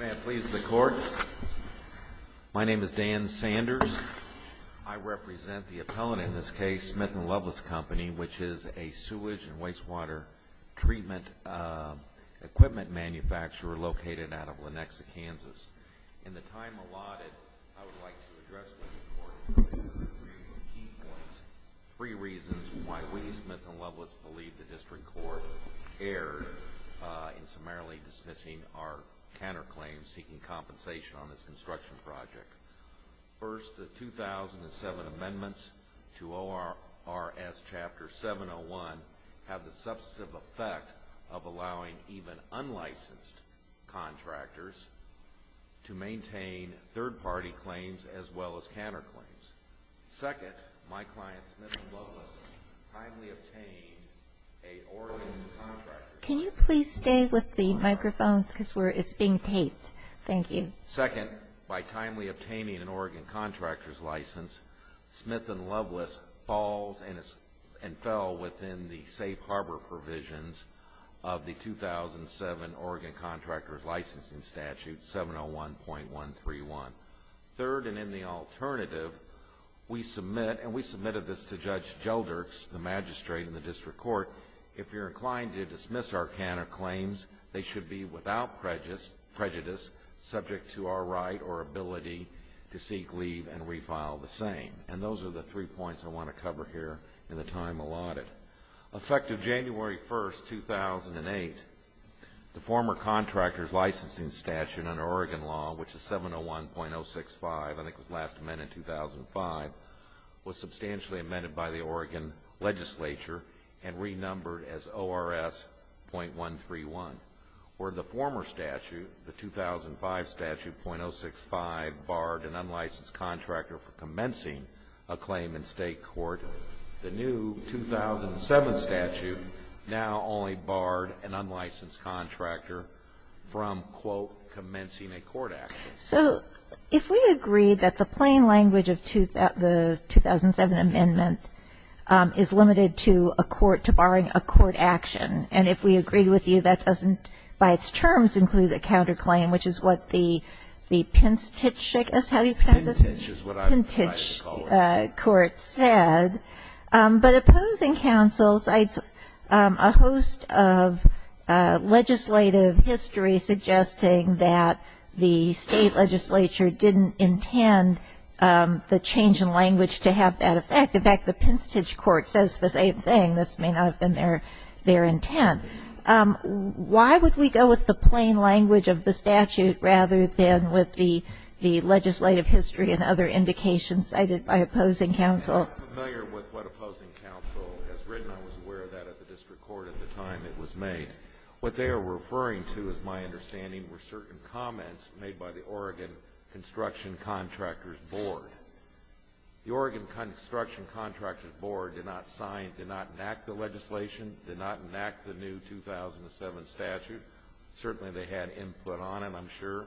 May it please the Court, my name is Dan Sanders. I represent the appellant in this case, Smith & Loveless Company, which is a sewage and wastewater treatment equipment manufacturer located out of Lenexa, Kansas. In the time allotted, I would like to address with the Court three key points, three reasons why we, Smith & Loveless, believe the District Court erred in summarily dismissing our counterclaims seeking compensation on this construction project. First, the 2007 amendments to ORS Chapter 701 have the substantive effect of allowing even unlicensed contractors to maintain third-party claims as well as counterclaims. Second, my client, Smith & Loveless, timely obtained an Oregon Contractor's License. Second, by timely obtaining an Oregon Contractor's License, Smith & Loveless falls and fell within the safe harbor provisions of the 2007 Oregon Contractor's Licensing Statute 701.131. Third, and in the alternative, we submit, and we submitted this to Judge Gelderk, the magistrate in the District Court, if you're inclined to dismiss our counterclaims, they should be without prejudice subject to our right or ability to seek leave and refile the same. And those are the three points I want to cover here in the time allotted. Effective January 1, 2008, the former Contractor's Licensing Statute under Oregon law, which is 701.065, I think was last amended in 2005, was substantially amended by the Oregon legislature and renumbered as ORS.131. Where the former statute, the 2005 statute, .065, barred an unlicensed contractor from commencing a claim in state court, the new 2007 statute now only barred an unlicensed contractor from, quote, commencing a court action. So if we agree that the plain language of the 2007 amendment is limited to a court, to barring a court action, and if we agree with you, that doesn't, by its terms, include a counterclaim, which is what the Pintich court said. But opposing counsel cites a host of legislative history suggesting that the state legislature didn't intend the change in language to have that effect. In fact, the Pintich court says the same thing. This may not have been their intent. Why would we go with the plain language of the statute rather than with the legislative history and other indications cited by opposing counsel? I'm not familiar with what opposing counsel has written. I was aware of that at the district court at the time it was made. What they are referring to, is my understanding, were certain comments made by the Oregon Construction Contractors Board. The Oregon Construction Contractors Board did not sign, did not enact the legislation, did not enact the new 2007 statute. Certainly they had input on it, I'm sure.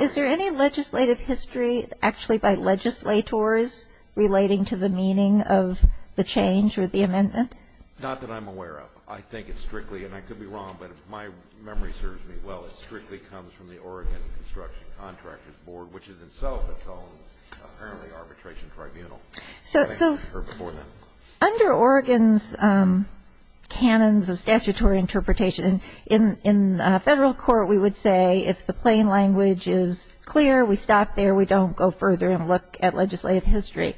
Is there any legislative history, actually, by legislators relating to the meaning of the change or the amendment? Not that I'm aware of. I think it's strictly, and I could be wrong, but if my memory serves me well, it strictly comes from the Oregon Construction Contractors Board, which is itself its own, apparently, arbitration tribunal. So under Oregon's canons of statutory interpretation, in Federal court, we would say if the plain language is clear, we stop there, we don't go further and look at legislative history.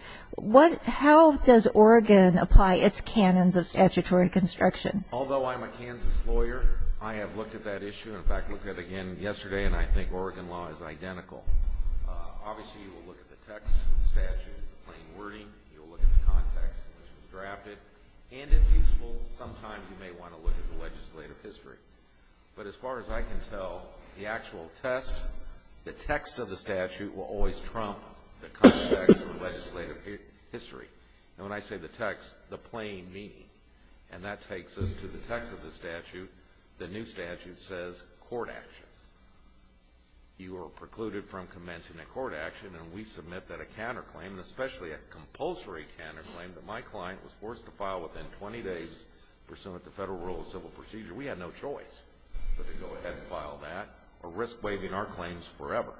How does Oregon apply its canons of statutory construction? Although I'm a Kansas lawyer, I have looked at that issue. In fact, I looked at it again yesterday, and I think Oregon law is identical. Obviously, you will look at the text of the statute, the plain wording. You will look at the context in which it was drafted. And if useful, sometimes you may want to look at the legislative history. But as far as I can tell, the actual test, the text of the statute will always trump the context of the legislative history. And when I say the text, the plain meaning, and that takes us to the text of the statute. The new statute says court action. You are precluded from commencing a court action, and we submit that a counterclaim, especially a compulsory counterclaim that my client was forced to file within 20 days, pursuant to federal rules of civil procedure. We had no choice but to go ahead and file that or risk waiving our claims forever.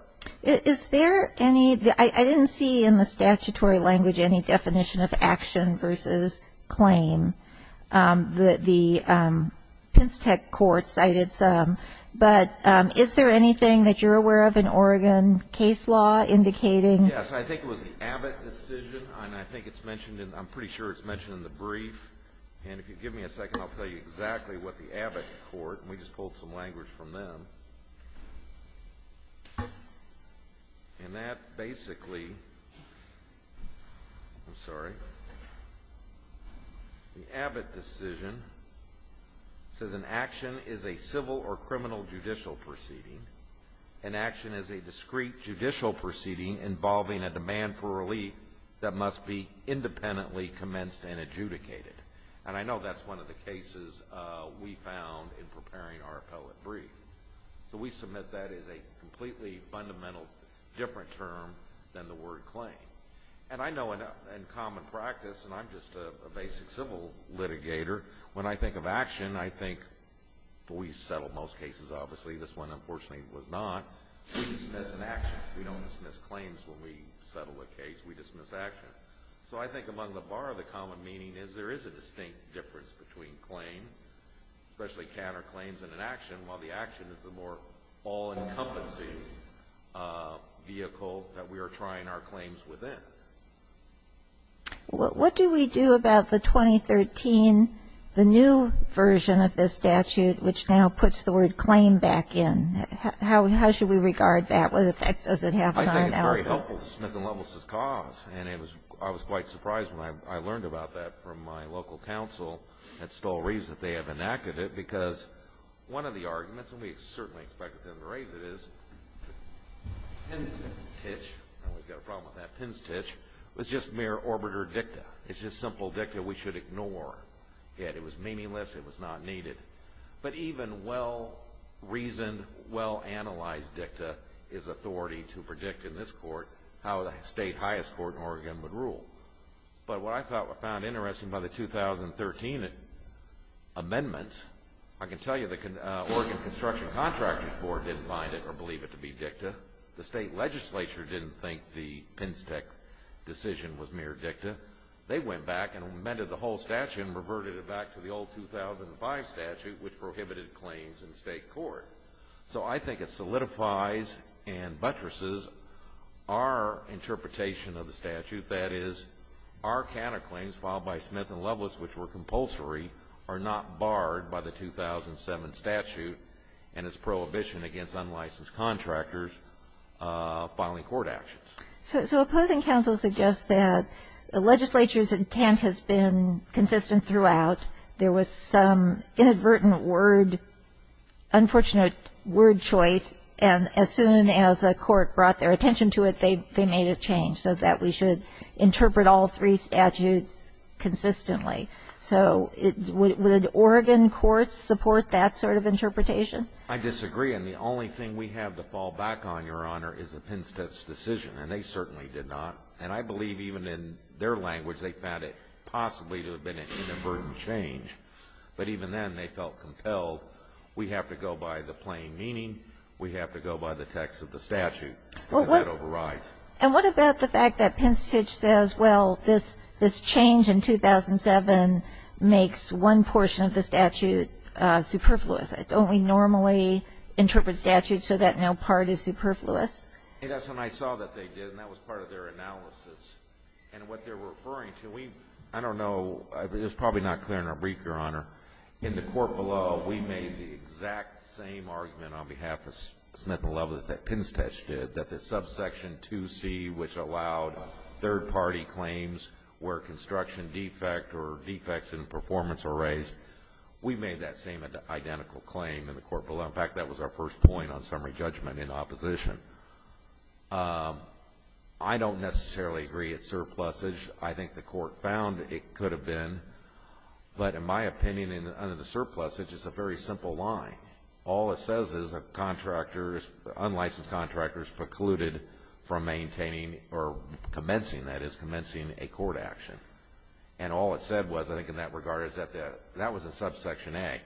Is there any – I didn't see in the statutory language any definition of action versus claim. The Penn State court cited some. But is there anything that you're aware of in Oregon case law indicating? Yes, I think it was the Abbott decision, and I think it's mentioned – I'm pretty sure it's mentioned in the brief. And if you give me a second, I'll tell you exactly what the Abbott court – and we just pulled some language from them. And that basically – I'm sorry. The Abbott decision says an action is a civil or criminal judicial proceeding. An action is a discrete judicial proceeding involving a demand for relief that must be independently commenced and adjudicated. And I know that's one of the cases we found in preparing our appellate brief. So we submit that as a completely fundamental different term than the word claim. And I know in common practice – and I'm just a basic civil litigator – when I think of action, I think – we've settled most cases, obviously. This one, unfortunately, was not. We dismiss an action. We don't dismiss claims when we settle a case. We dismiss action. So I think among the bar, the common meaning is there is a distinct difference between claim, especially counterclaims and an action, while the action is the more all-encompassing vehicle that we are trying our claims within. What do we do about the 2013, the new version of this statute, which now puts the word claim back in? How should we regard that? What effect does it have on our analysis? Well, it's very helpful to Smith & Lovelace's cause, and I was quite surprised when I learned about that from my local counsel at Stoll Reeves that they have enacted it because one of the arguments – and we certainly expected them to raise it – is Pinstitch – and we've got a problem with that – Pinstitch was just mere orbiter dicta. It's just simple dicta we should ignore. Yet it was meaningless. It was not needed. But even well-reasoned, well-analyzed dicta is authority to predict in this court how the state highest court in Oregon would rule. But what I found interesting about the 2013 amendment, I can tell you the Oregon Construction Contractors Board didn't find it or believe it to be dicta. The state legislature didn't think the Pinstitch decision was mere dicta. They went back and amended the whole statute and reverted it back to the old 2005 statute, which prohibited claims in state court. So I think it solidifies and buttresses our interpretation of the statute, that is our counterclaims filed by Smith & Lovelace, which were compulsory, are not barred by the 2007 statute and its prohibition against unlicensed contractors filing court actions. So opposing counsel suggests that the legislature's intent has been consistent throughout. There was some inadvertent word, unfortunate word choice, and as soon as a court brought their attention to it, they made a change so that we should interpret all three statutes consistently. So would Oregon courts support that sort of interpretation? I disagree, and the only thing we have to fall back on, Your Honor, is the Pinstitch decision. And they certainly did not. And I believe even in their language, they found it possibly to have been an inadvertent change. But even then, they felt compelled, we have to go by the plain meaning, we have to go by the text of the statute, and that overrides. And what about the fact that Pinstitch says, well, this change in 2007 makes one portion of the statute superfluous? Don't we normally interpret statutes so that no part is superfluous? That's what I saw that they did, and that was part of their analysis. And what they're referring to, I don't know, it's probably not clear in our brief, Your Honor. In the court below, we made the exact same argument on behalf of Smith & Loveless that Pinstitch did, that the subsection 2C, which allowed third-party claims where construction defect or defects in performance are raised, we made that same identical claim in the court below. In fact, that was our first point on summary judgment in opposition. I don't necessarily agree it's surplusage. I think the court found it could have been. But in my opinion, under the surplusage, it's a very simple line. All it says is that contractors, unlicensed contractors, precluded from maintaining or commencing, that is, commencing a court action. And all it said was, I think in that regard, is that that was a subsection A.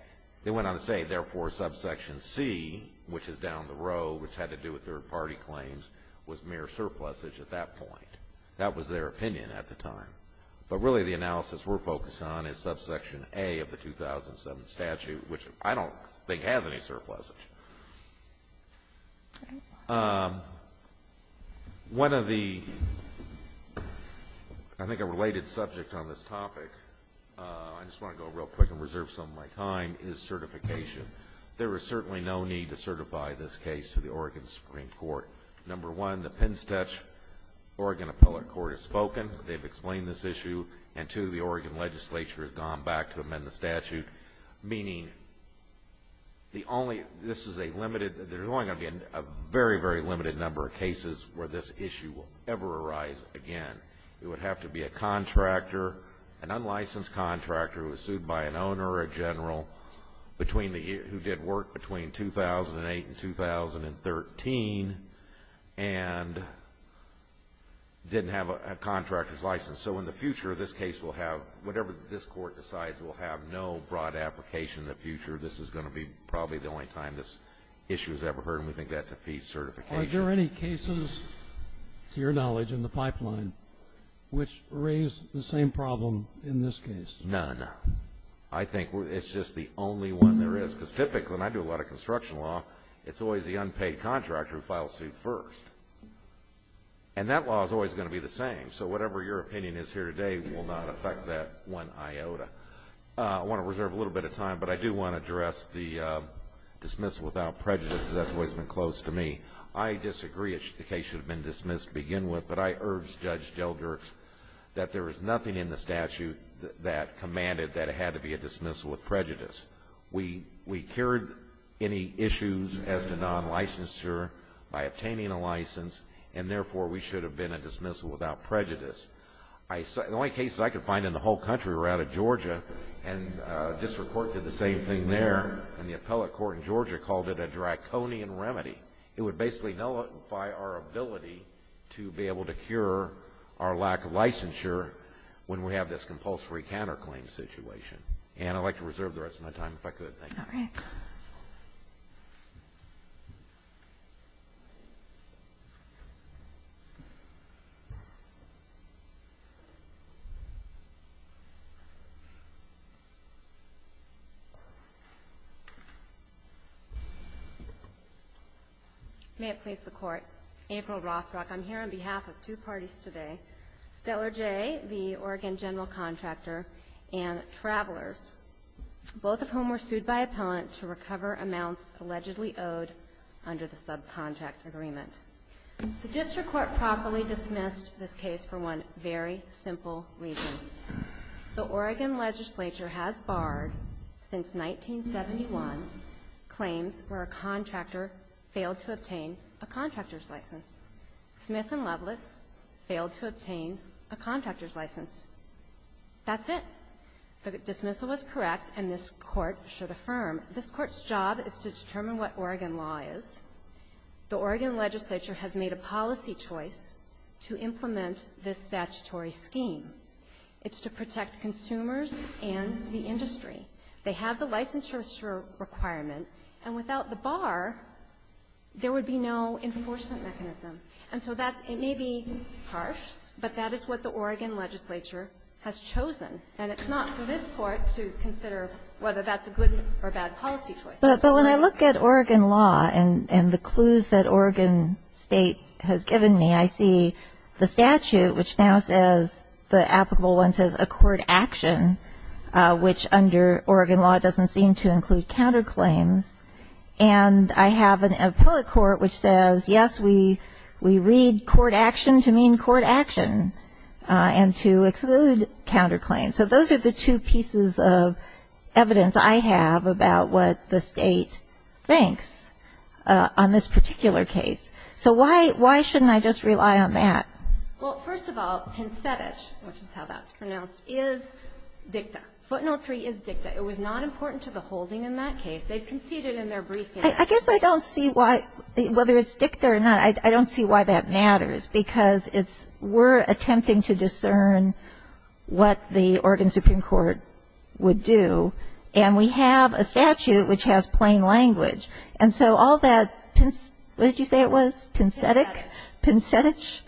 They went on to say, therefore, subsection C, which is down the row, which had to do with third-party claims, was mere surplusage at that point. That was their opinion at the time. But really the analysis we're focused on is subsection A of the 2007 statute, which I don't think has any surplusage. One of the, I think a related subject on this topic, I just want to go real quick and reserve some of my time, is certification. There is certainly no need to certify this case to the Oregon Supreme Court. Number one, the PennStetch Oregon Appellate Court has spoken. They've explained this issue. And two, the Oregon legislature has gone back to amend the statute, meaning this is a limited, there's only going to be a very, very limited number of cases where this issue will ever arise again. It would have to be a contractor, an unlicensed contractor who was sued by an owner or a general who did work between 2008 and 2013 and didn't have a contractor's license. So in the future, this case will have, whatever this Court decides, will have no broad application in the future. This is going to be probably the only time this issue is ever heard, and we think that defeats certification. Are there any cases, to your knowledge, in the pipeline which raise the same problem in this case? None. I think it's just the only one there is. Because typically, and I do a lot of construction law, it's always the unpaid contractor who files suit first. And that law is always going to be the same. So whatever your opinion is here today will not affect that one iota. I want to reserve a little bit of time, but I do want to address the dismissal without prejudice, because that's always been close to me. I disagree that the case should have been dismissed to begin with, but I urge Judge DelGerks that there is nothing in the statute that commanded that it had to be a dismissal with prejudice. We cured any issues as to non-licensure by obtaining a license, and therefore we should have been a dismissal without prejudice. The only cases I could find in the whole country were out of Georgia and district court did the same thing there, and the appellate court in Georgia called it a draconian remedy. It would basically nullify our ability to be able to cure our lack of licensure when we have this compulsory counterclaim situation. And I'd like to reserve the rest of my time if I could. Thank you. All right. May it please the Court. April Rothrock, I'm here on behalf of two parties today, Stellar Jay, the Oregon general contractor, and Travelers, both of whom were sued by appellant to recover amounts allegedly owed under the subcontract agreement. The district court properly dismissed this case for one very simple reason. The Oregon legislature has barred, since 1971, claims where a contractor failed to obtain a contractor's license. Smith and Loveless failed to obtain a contractor's license. That's it. The dismissal was correct, and this Court should affirm. This Court's job is to determine what Oregon law is. The Oregon legislature has made a policy choice to implement this statutory scheme. It's to protect consumers and the industry. They have the licensure requirement, and without the bar, there would be no enforcement mechanism. And so that's, it may be harsh, but that is what the Oregon legislature has chosen. And it's not for this Court to consider whether that's a good or bad policy choice. But when I look at Oregon law and the clues that Oregon State has given me, I see the statute, which now says, the applicable one says, a court action, which under Oregon law doesn't seem to include counterclaims. And I have an appellate court which says, yes, we read court action to mean court action and to exclude counterclaims. So those are the two pieces of evidence I have about what the State thinks on this particular case. So why shouldn't I just rely on that? Well, first of all, pincetich, which is how that's pronounced, is dicta. Footnote 3 is dicta. It was not important to the holding in that case. They've conceded in their briefing. I guess I don't see why, whether it's dicta or not, I don't see why that matters, because it's, we're attempting to discern what the Oregon Supreme Court would do, and we have a statute which has plain language. And so all that, what did you say it was? Pincetich. Pincetich?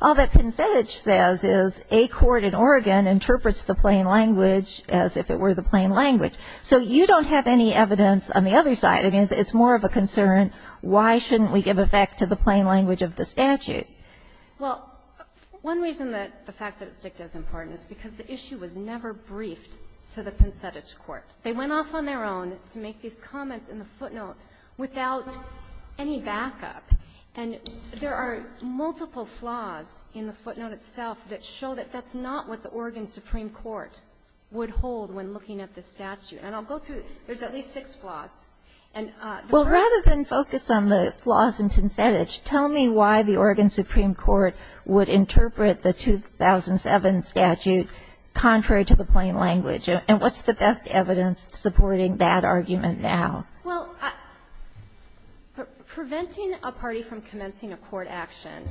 All that pincetich says is a court in Oregon interprets the plain language as if it were the plain language. So you don't have any evidence on the other side. I mean, it's more of a concern, why shouldn't we give effect to the plain language of the statute? Well, one reason that the fact that it's dicta is important is because the issue was never briefed to the pincetich court. They went off on their own to make these comments in the footnote without any backup. And there are multiple flaws in the footnote itself that show that that's not what the Oregon Supreme Court would hold when looking at the statute. And I'll go through it. There's at least six flaws. And the first one is the fact that it's dicta. Well, rather than focus on the flaws in pincetich, tell me why the Oregon Supreme Court would interpret the 2007 statute contrary to the plain language, and what's the best evidence supporting that argument now? Well, preventing a party from commencing a court action,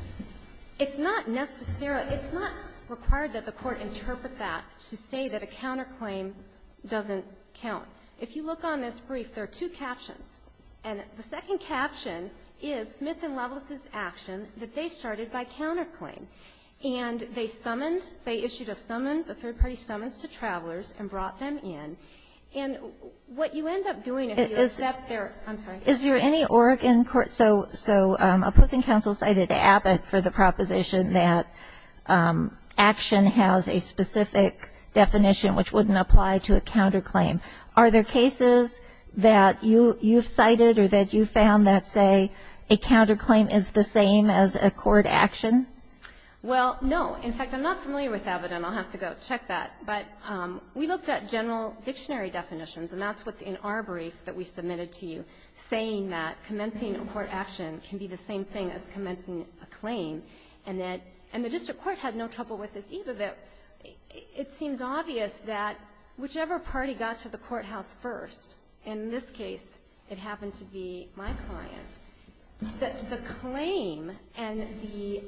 it's not necessarily – it's not required that the Court interpret that to say that a counterclaim doesn't count. If you look on this brief, there are two captions. And the second caption is Smith and Lovelace's action that they started by counterclaim. And they summoned – they issued a summons, a third-party summons to travelers and brought them in. And what you end up doing if you accept their – I'm sorry. Is there any Oregon court – so Opposing Counsel cited Abbott for the proposition that action has a specific definition which wouldn't apply to a counterclaim. Are there cases that you've cited or that you've found that, say, a counterclaim is the same as a court action? Well, no. In fact, I'm not familiar with Abbott, and I'll have to go check that. But we looked at general dictionary definitions, and that's what's in our brief that we submitted to you, saying that commencing a court action can be the same thing as commencing a claim, and that – and the district court had no trouble with this either, that it seems obvious that whichever party got to the courthouse first – in this case, it happened to be my client – that the claim and the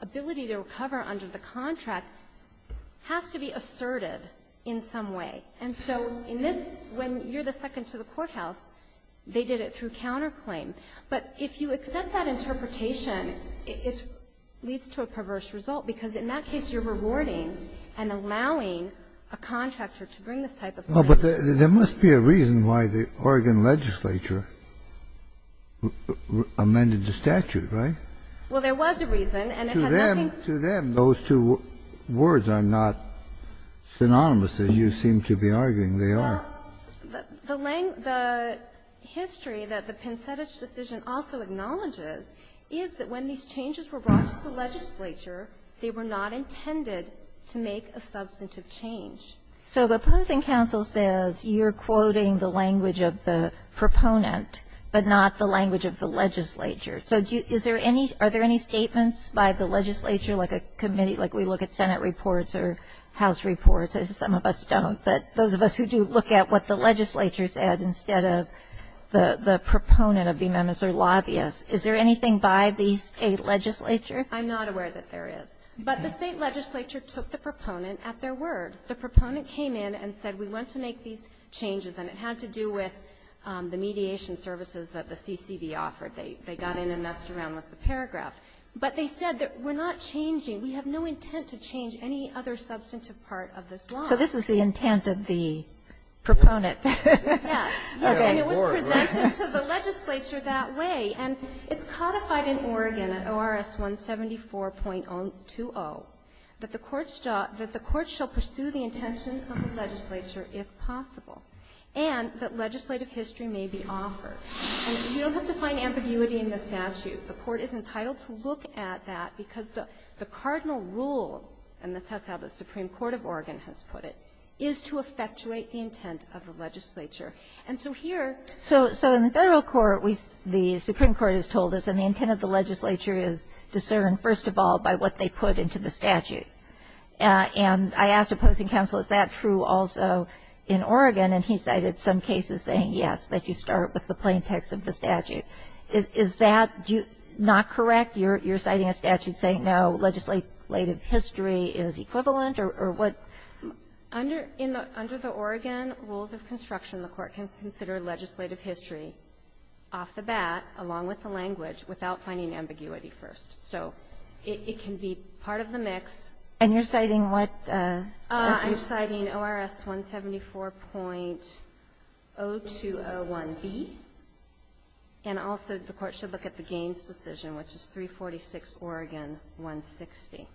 ability to recover under the contract has to be asserted in some way. And so in this, when you're the second to the courthouse, they did it through counterclaim. But if you accept that interpretation, it leads to a perverse result, because in that case, you're rewarding and allowing a contractor to bring this type of claim. But there must be a reason why the Oregon legislature amended the statute, right? Well, there was a reason. To them, to them, those two words are not synonymous, as you seem to be arguing they are. Well, the language – the history that the Pincetich decision also acknowledges is that when these changes were brought to the legislature, they were not intended to make a substantive change. So the opposing counsel says you're quoting the language of the proponent, but not the language of the legislature. So is there any – are there any statements by the legislature, like a committee – like we look at Senate reports or House reports, as some of us don't. But those of us who do look at what the legislature said instead of the proponent of the amendments or lobbyists, is there anything by the state legislature? I'm not aware that there is. But the state legislature took the proponent at their word. The proponent came in and said, we want to make these changes. And it had to do with the mediation services that the CCB offered. They got in and messed around with the paragraph. But they said that we're not changing. We have no intent to change any other substantive part of this law. So this is the intent of the proponent. Yes. And it was presented to the legislature that way. And it's codified in Oregon at ORS 174.20 that the courts shall pursue the intention of the legislature if possible, and that legislative history may be offered. And you don't have to find ambiguity in the statute. The court is entitled to look at that because the cardinal rule, and this is how the Supreme Court of Oregon has put it, is to effectuate the intent of the legislature. And so here – So in the Federal court, we – the Supreme Court has told us that the intent of the legislature is discerned, first of all, by what they put into the statute. And I asked opposing counsel, is that true also in Oregon? And he cited some cases saying, yes, that you start with the plain text of the statute. Is that not correct? You're citing a statute saying, no, legislative history is equivalent? Or what – Under the Oregon rules of construction, the court can consider legislative history off the bat, along with the language, without finding ambiguity first. So it can be part of the mix. And you're citing what statute? I'm citing ORS 174.0201B. And also, the court should look at the Gaines decision, which is 346 Oregon 160.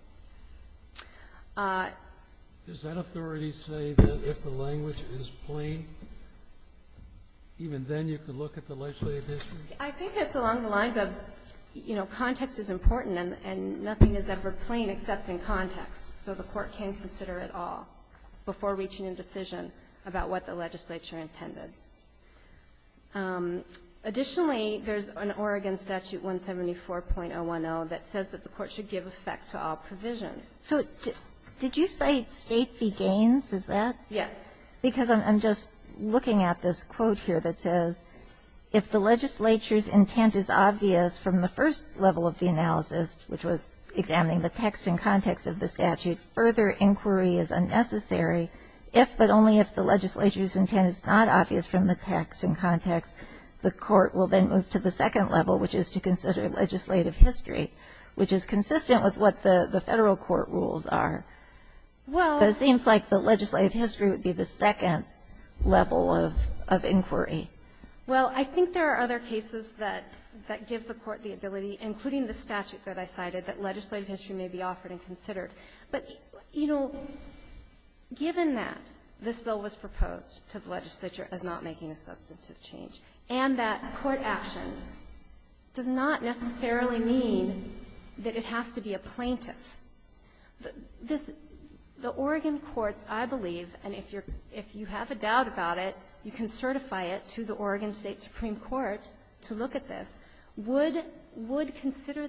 Does that authority say that if the language is plain, even then you can look at the legislative history? I think it's along the lines of, you know, context is important, and nothing is ever plain except in context, so the court can consider it all before reaching a decision about what the legislature intended. Additionally, there's an Oregon statute 174.010 that says that the court should give effect to all provisions. So did you cite State v. Gaines? Is that? Yes. Because I'm just looking at this quote here that says, if the legislature's intent is not obvious from the text and context of the statute, further inquiry is unnecessary, if but only if the legislature's intent is not obvious from the text and context, the court will then move to the second level, which is to consider legislative history, which is consistent with what the Federal court rules are. But it seems like the legislative history would be the second level of inquiry. Well, I think there are other cases that give the court the ability, including the statute that I cited, that legislative history may be offered and considered. But, you know, given that this bill was proposed to the legislature as not making a substantive change, and that court action does not necessarily mean that it has to be a plaintiff, the Oregon courts, I believe, and if you have a doubt about it, you can consider the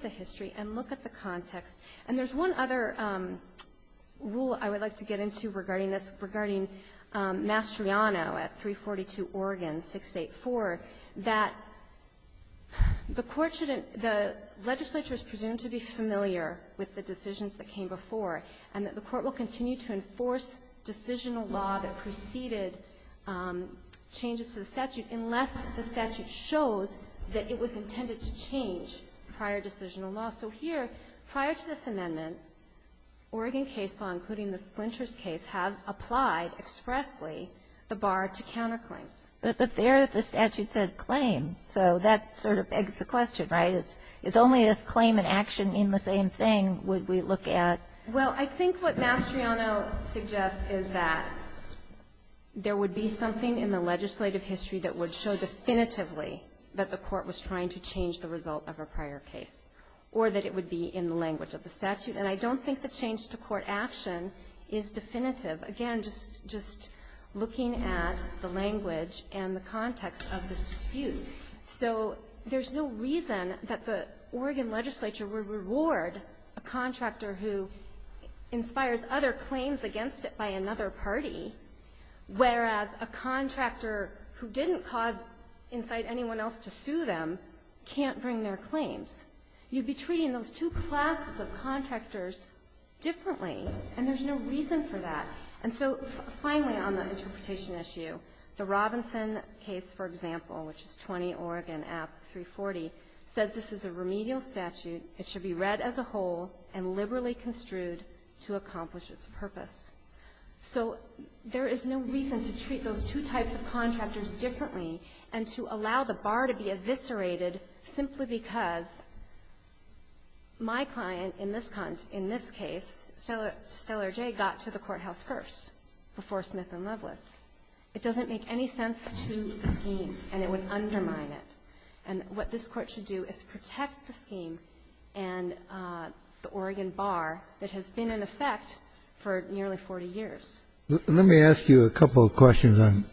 history and look at the context. And there's one other rule I would like to get into regarding this, regarding Mastriano at 342 Oregon 684, that the court shouldn't — the legislature is presumed to be familiar with the decisions that came before, and that the court will continue to enforce decisional law that preceded changes to the statute unless the statute shows that it was intended to change prior decisional law. So here, prior to this amendment, Oregon case law, including the splinters case, have applied expressly the bar to counterclaims. But there the statute said claim. So that sort of begs the question, right? It's only if claim and action mean the same thing would we look at — Well, I think what Mastriano suggests is that there would be something in the legislative history that would show definitively that the court was trying to change the result of a prior case, or that it would be in the language of the statute. And I don't think the change-to-court action is definitive. Again, just looking at the language and the context of this dispute. So there's no reason that the Oregon legislature would reward a contractor who inspires other claims against it by another party, whereas a contractor who didn't cause — incite anyone else to sue them can't bring their claims. You'd be treating those two classes of contractors differently, and there's no reason for that. And so finally, on the interpretation issue, the Robinson case, for example, which is 20 Oregon App. 340, says this is a remedial statute. It should be read as a whole and liberally construed to accomplish its purpose. So there is no reason to treat those two types of contractors differently and to allow the bar to be eviscerated simply because my client in this case, Stellar J., got to the courthouse first, before Smith and Loveless. It doesn't make any sense to the scheme, and it would undermine it. And what this Court should do is protect the scheme and the Oregon bar that has been in effect for nearly 40 years. Let me ask you a couple of questions on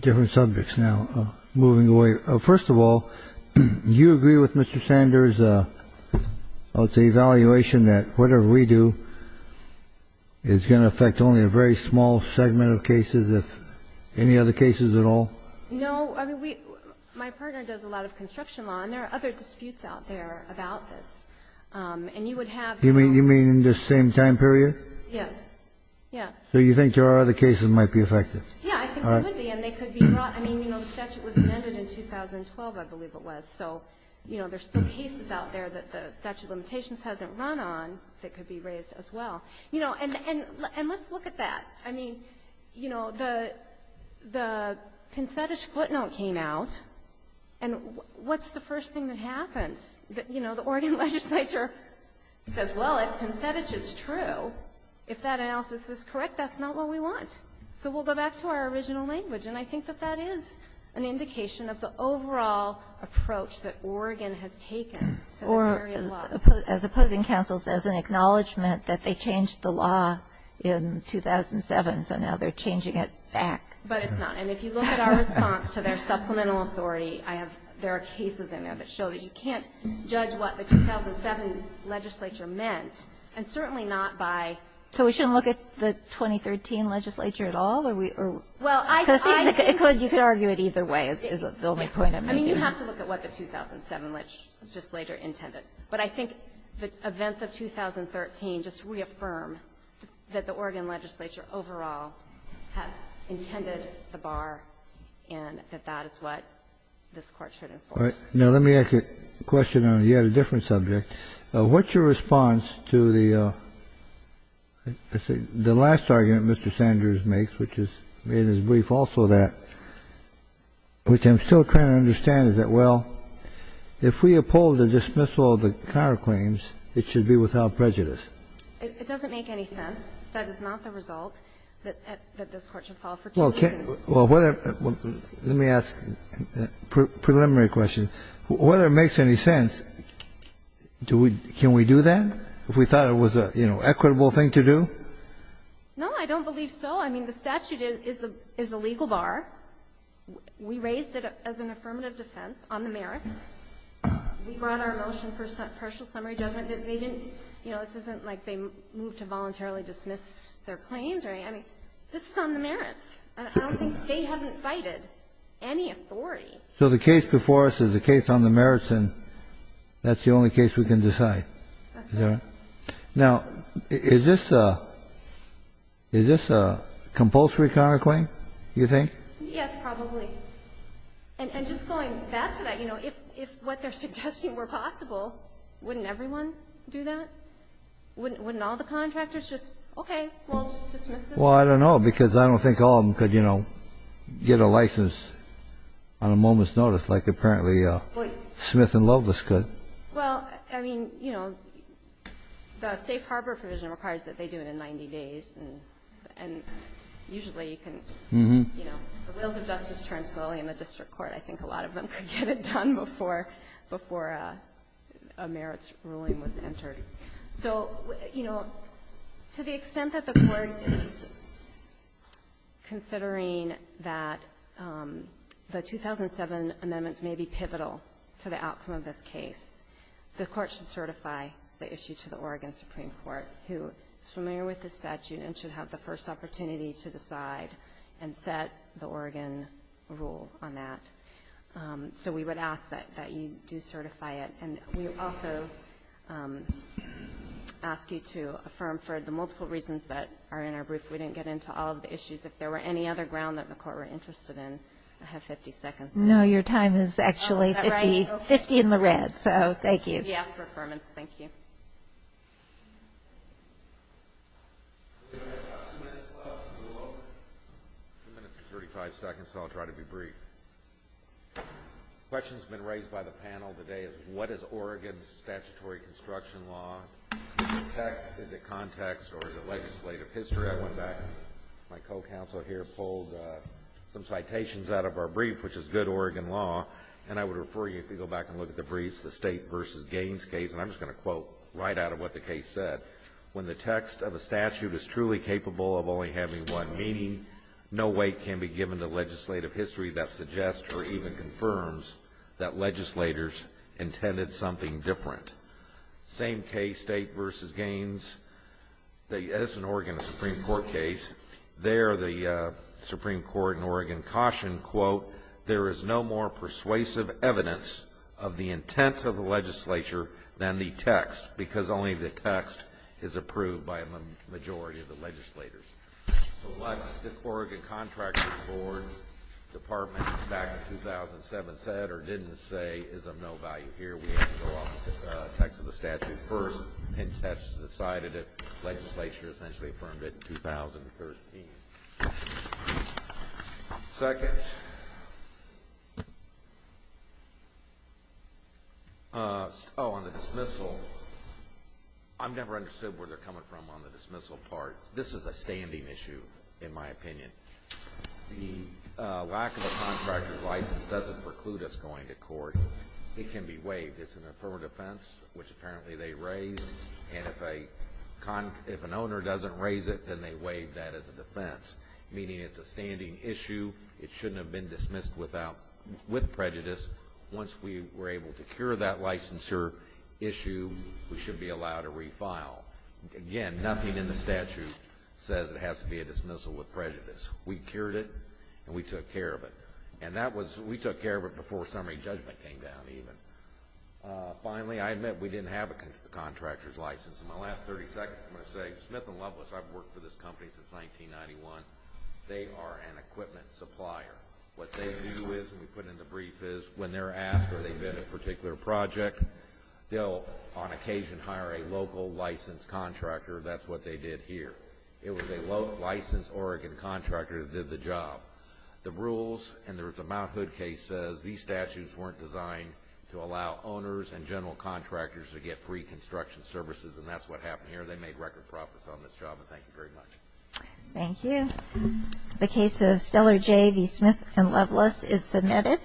different subjects now, moving away. First of all, do you agree with Mr. Sanders' evaluation that whatever we do is going to affect only a very small segment of cases, if any other cases at all? No. I mean, we — my partner does a lot of construction law, and there are other disputes out there about this. And you would have to do — You mean in this same time period? Yes. Yeah. So you think there are other cases that might be affected? Yeah, I think there would be, and they could be brought. I mean, you know, the statute was amended in 2012, I believe it was. So, you know, there are still cases out there that the statute of limitations hasn't run on that could be raised as well. You know, and let's look at that. I mean, you know, the Pinsettish footnote came out, and what's the first thing that happens? You know, the Oregon legislature says, well, if Pinsettish is true, if that analysis is correct, that's not what we want. So we'll go back to our original language. And I think that that is an indication of the overall approach that Oregon has taken to the area of law. As opposing counsels, as an acknowledgement that they changed the law in 2007, so now they're changing it back. But it's not. And if you look at our response to their supplemental authority, I have – there are cases in there that show that you can't judge what the 2007 legislature meant, and certainly not by – Kagan. So we shouldn't look at the 2013 legislature at all, or we – Well, I – Because it seems like it could. You could argue it either way, is the only point I'm making. I mean, you have to look at what the 2007 legislature intended. But I think the events of 2013 just reaffirm that the Oregon legislature overall has intended the bar, and that that is what this Court should enforce. All right. Now, let me ask you a question on yet a different subject. What's your response to the – the last argument Mr. Sanders makes, which is in his brief also that – which I'm still trying to understand, is that, well, if we uphold the dismissal of the counterclaims, it should be without prejudice. It doesn't make any sense. That is not the result that this Court should follow for two reasons. Well, whether – let me ask a preliminary question. Whether it makes any sense, do we – can we do that? If we thought it was a, you know, equitable thing to do? No, I don't believe so. I mean, the statute is a legal bar. We raised it as an affirmative defense on the merits. We brought our motion for partial summary judgment. You know, this isn't like they moved to voluntarily dismiss their claims, right? I mean, this is on the merits, and I don't think they haven't cited any authority. So the case before us is a case on the merits, and that's the only case we can decide? That's right. Is that right? Now, is this a – is this a compulsory counterclaim, you think? Yes, probably. And just going back to that, you know, if what they're suggesting were possible, wouldn't everyone do that? Wouldn't all the contractors just, okay, we'll dismiss this? Well, I don't know because I don't think all of them could, you know, get a license on a moment's notice like apparently Smith and Lovelace could. Well, I mean, you know, the safe harbor provision requires that they do it in 90 days, and usually you can, you know, the wheels of justice turn slowly in the district court. I think a lot of them could get it done before a merits ruling was entered. So, you know, to the extent that the Court is considering that the 2007 amendments may be pivotal to the outcome of this case, the Court should certify the issue to the Oregon Supreme Court, who is familiar with the statute and should have the first opportunity to decide and set the Oregon rule on that. So we would ask that you do certify it. And we also ask you to affirm for the multiple reasons that are in our brief. We didn't get into all of the issues. If there were any other ground that the Court were interested in, I have 50 seconds. No, your time is actually 50 in the red, so thank you. Yes, for affirmance, thank you. We have about two minutes left. Two minutes and 35 seconds, so I'll try to be brief. The question that's been raised by the panel today is, what is Oregon's statutory construction law? Is it text, is it context, or is it legislative history? I went back, my co-counsel here pulled some citations out of our brief, which is good Oregon law, and I would refer you if you go back and look at the briefs, the State v. Gaines case, and I'm just going to quote right out of what the case said. When the text of a statute is truly capable of only having one meaning, no weight can be given to legislative history that suggests or even confirms that legislators intended something different. Same case, State v. Gaines, the Edison, Oregon Supreme Court case. There the Supreme Court in Oregon cautioned, quote, there is no more persuasive evidence of the intent of the legislature than the text, because only the text is approved by the majority of the legislators. So what the Oregon Contractors Board Department back in 2007 said or didn't say is of no value here. We have to go off the text of the statute first, and that's decided if legislature essentially affirmed it in 2013. Second, oh, on the dismissal, I've never understood where they're coming from on the dismissal part. This is a standing issue, in my opinion. The lack of a contractor's license doesn't preclude us going to court. It can be waived. It's an affirmative defense, which apparently they raised. And if an owner doesn't raise it, then they waive that as a defense, meaning it's a standing issue. It shouldn't have been dismissed with prejudice. Once we were able to cure that licensure issue, we should be allowed to refile. Again, nothing in the statute says it has to be a dismissal with prejudice. We cured it, and we took care of it. And that was we took care of it before summary judgment came down even. Finally, I admit we didn't have a contractor's license. In my last 30 seconds, I'm going to say Smith & Loveless, I've worked for this company since 1991. They are an equipment supplier. What they do is, and we put it in the brief, is when they're asked where they bid a particular project, they'll on occasion hire a local licensed contractor. That's what they did here. It was a licensed Oregon contractor that did the job. The rules in the Mount Hood case says these statutes weren't designed to allow owners and general contractors to get free construction services, and that's what happened here. They made record profits on this job, and thank you very much. Thank you. The case of Steller J. v. Smith & Loveless is submitted.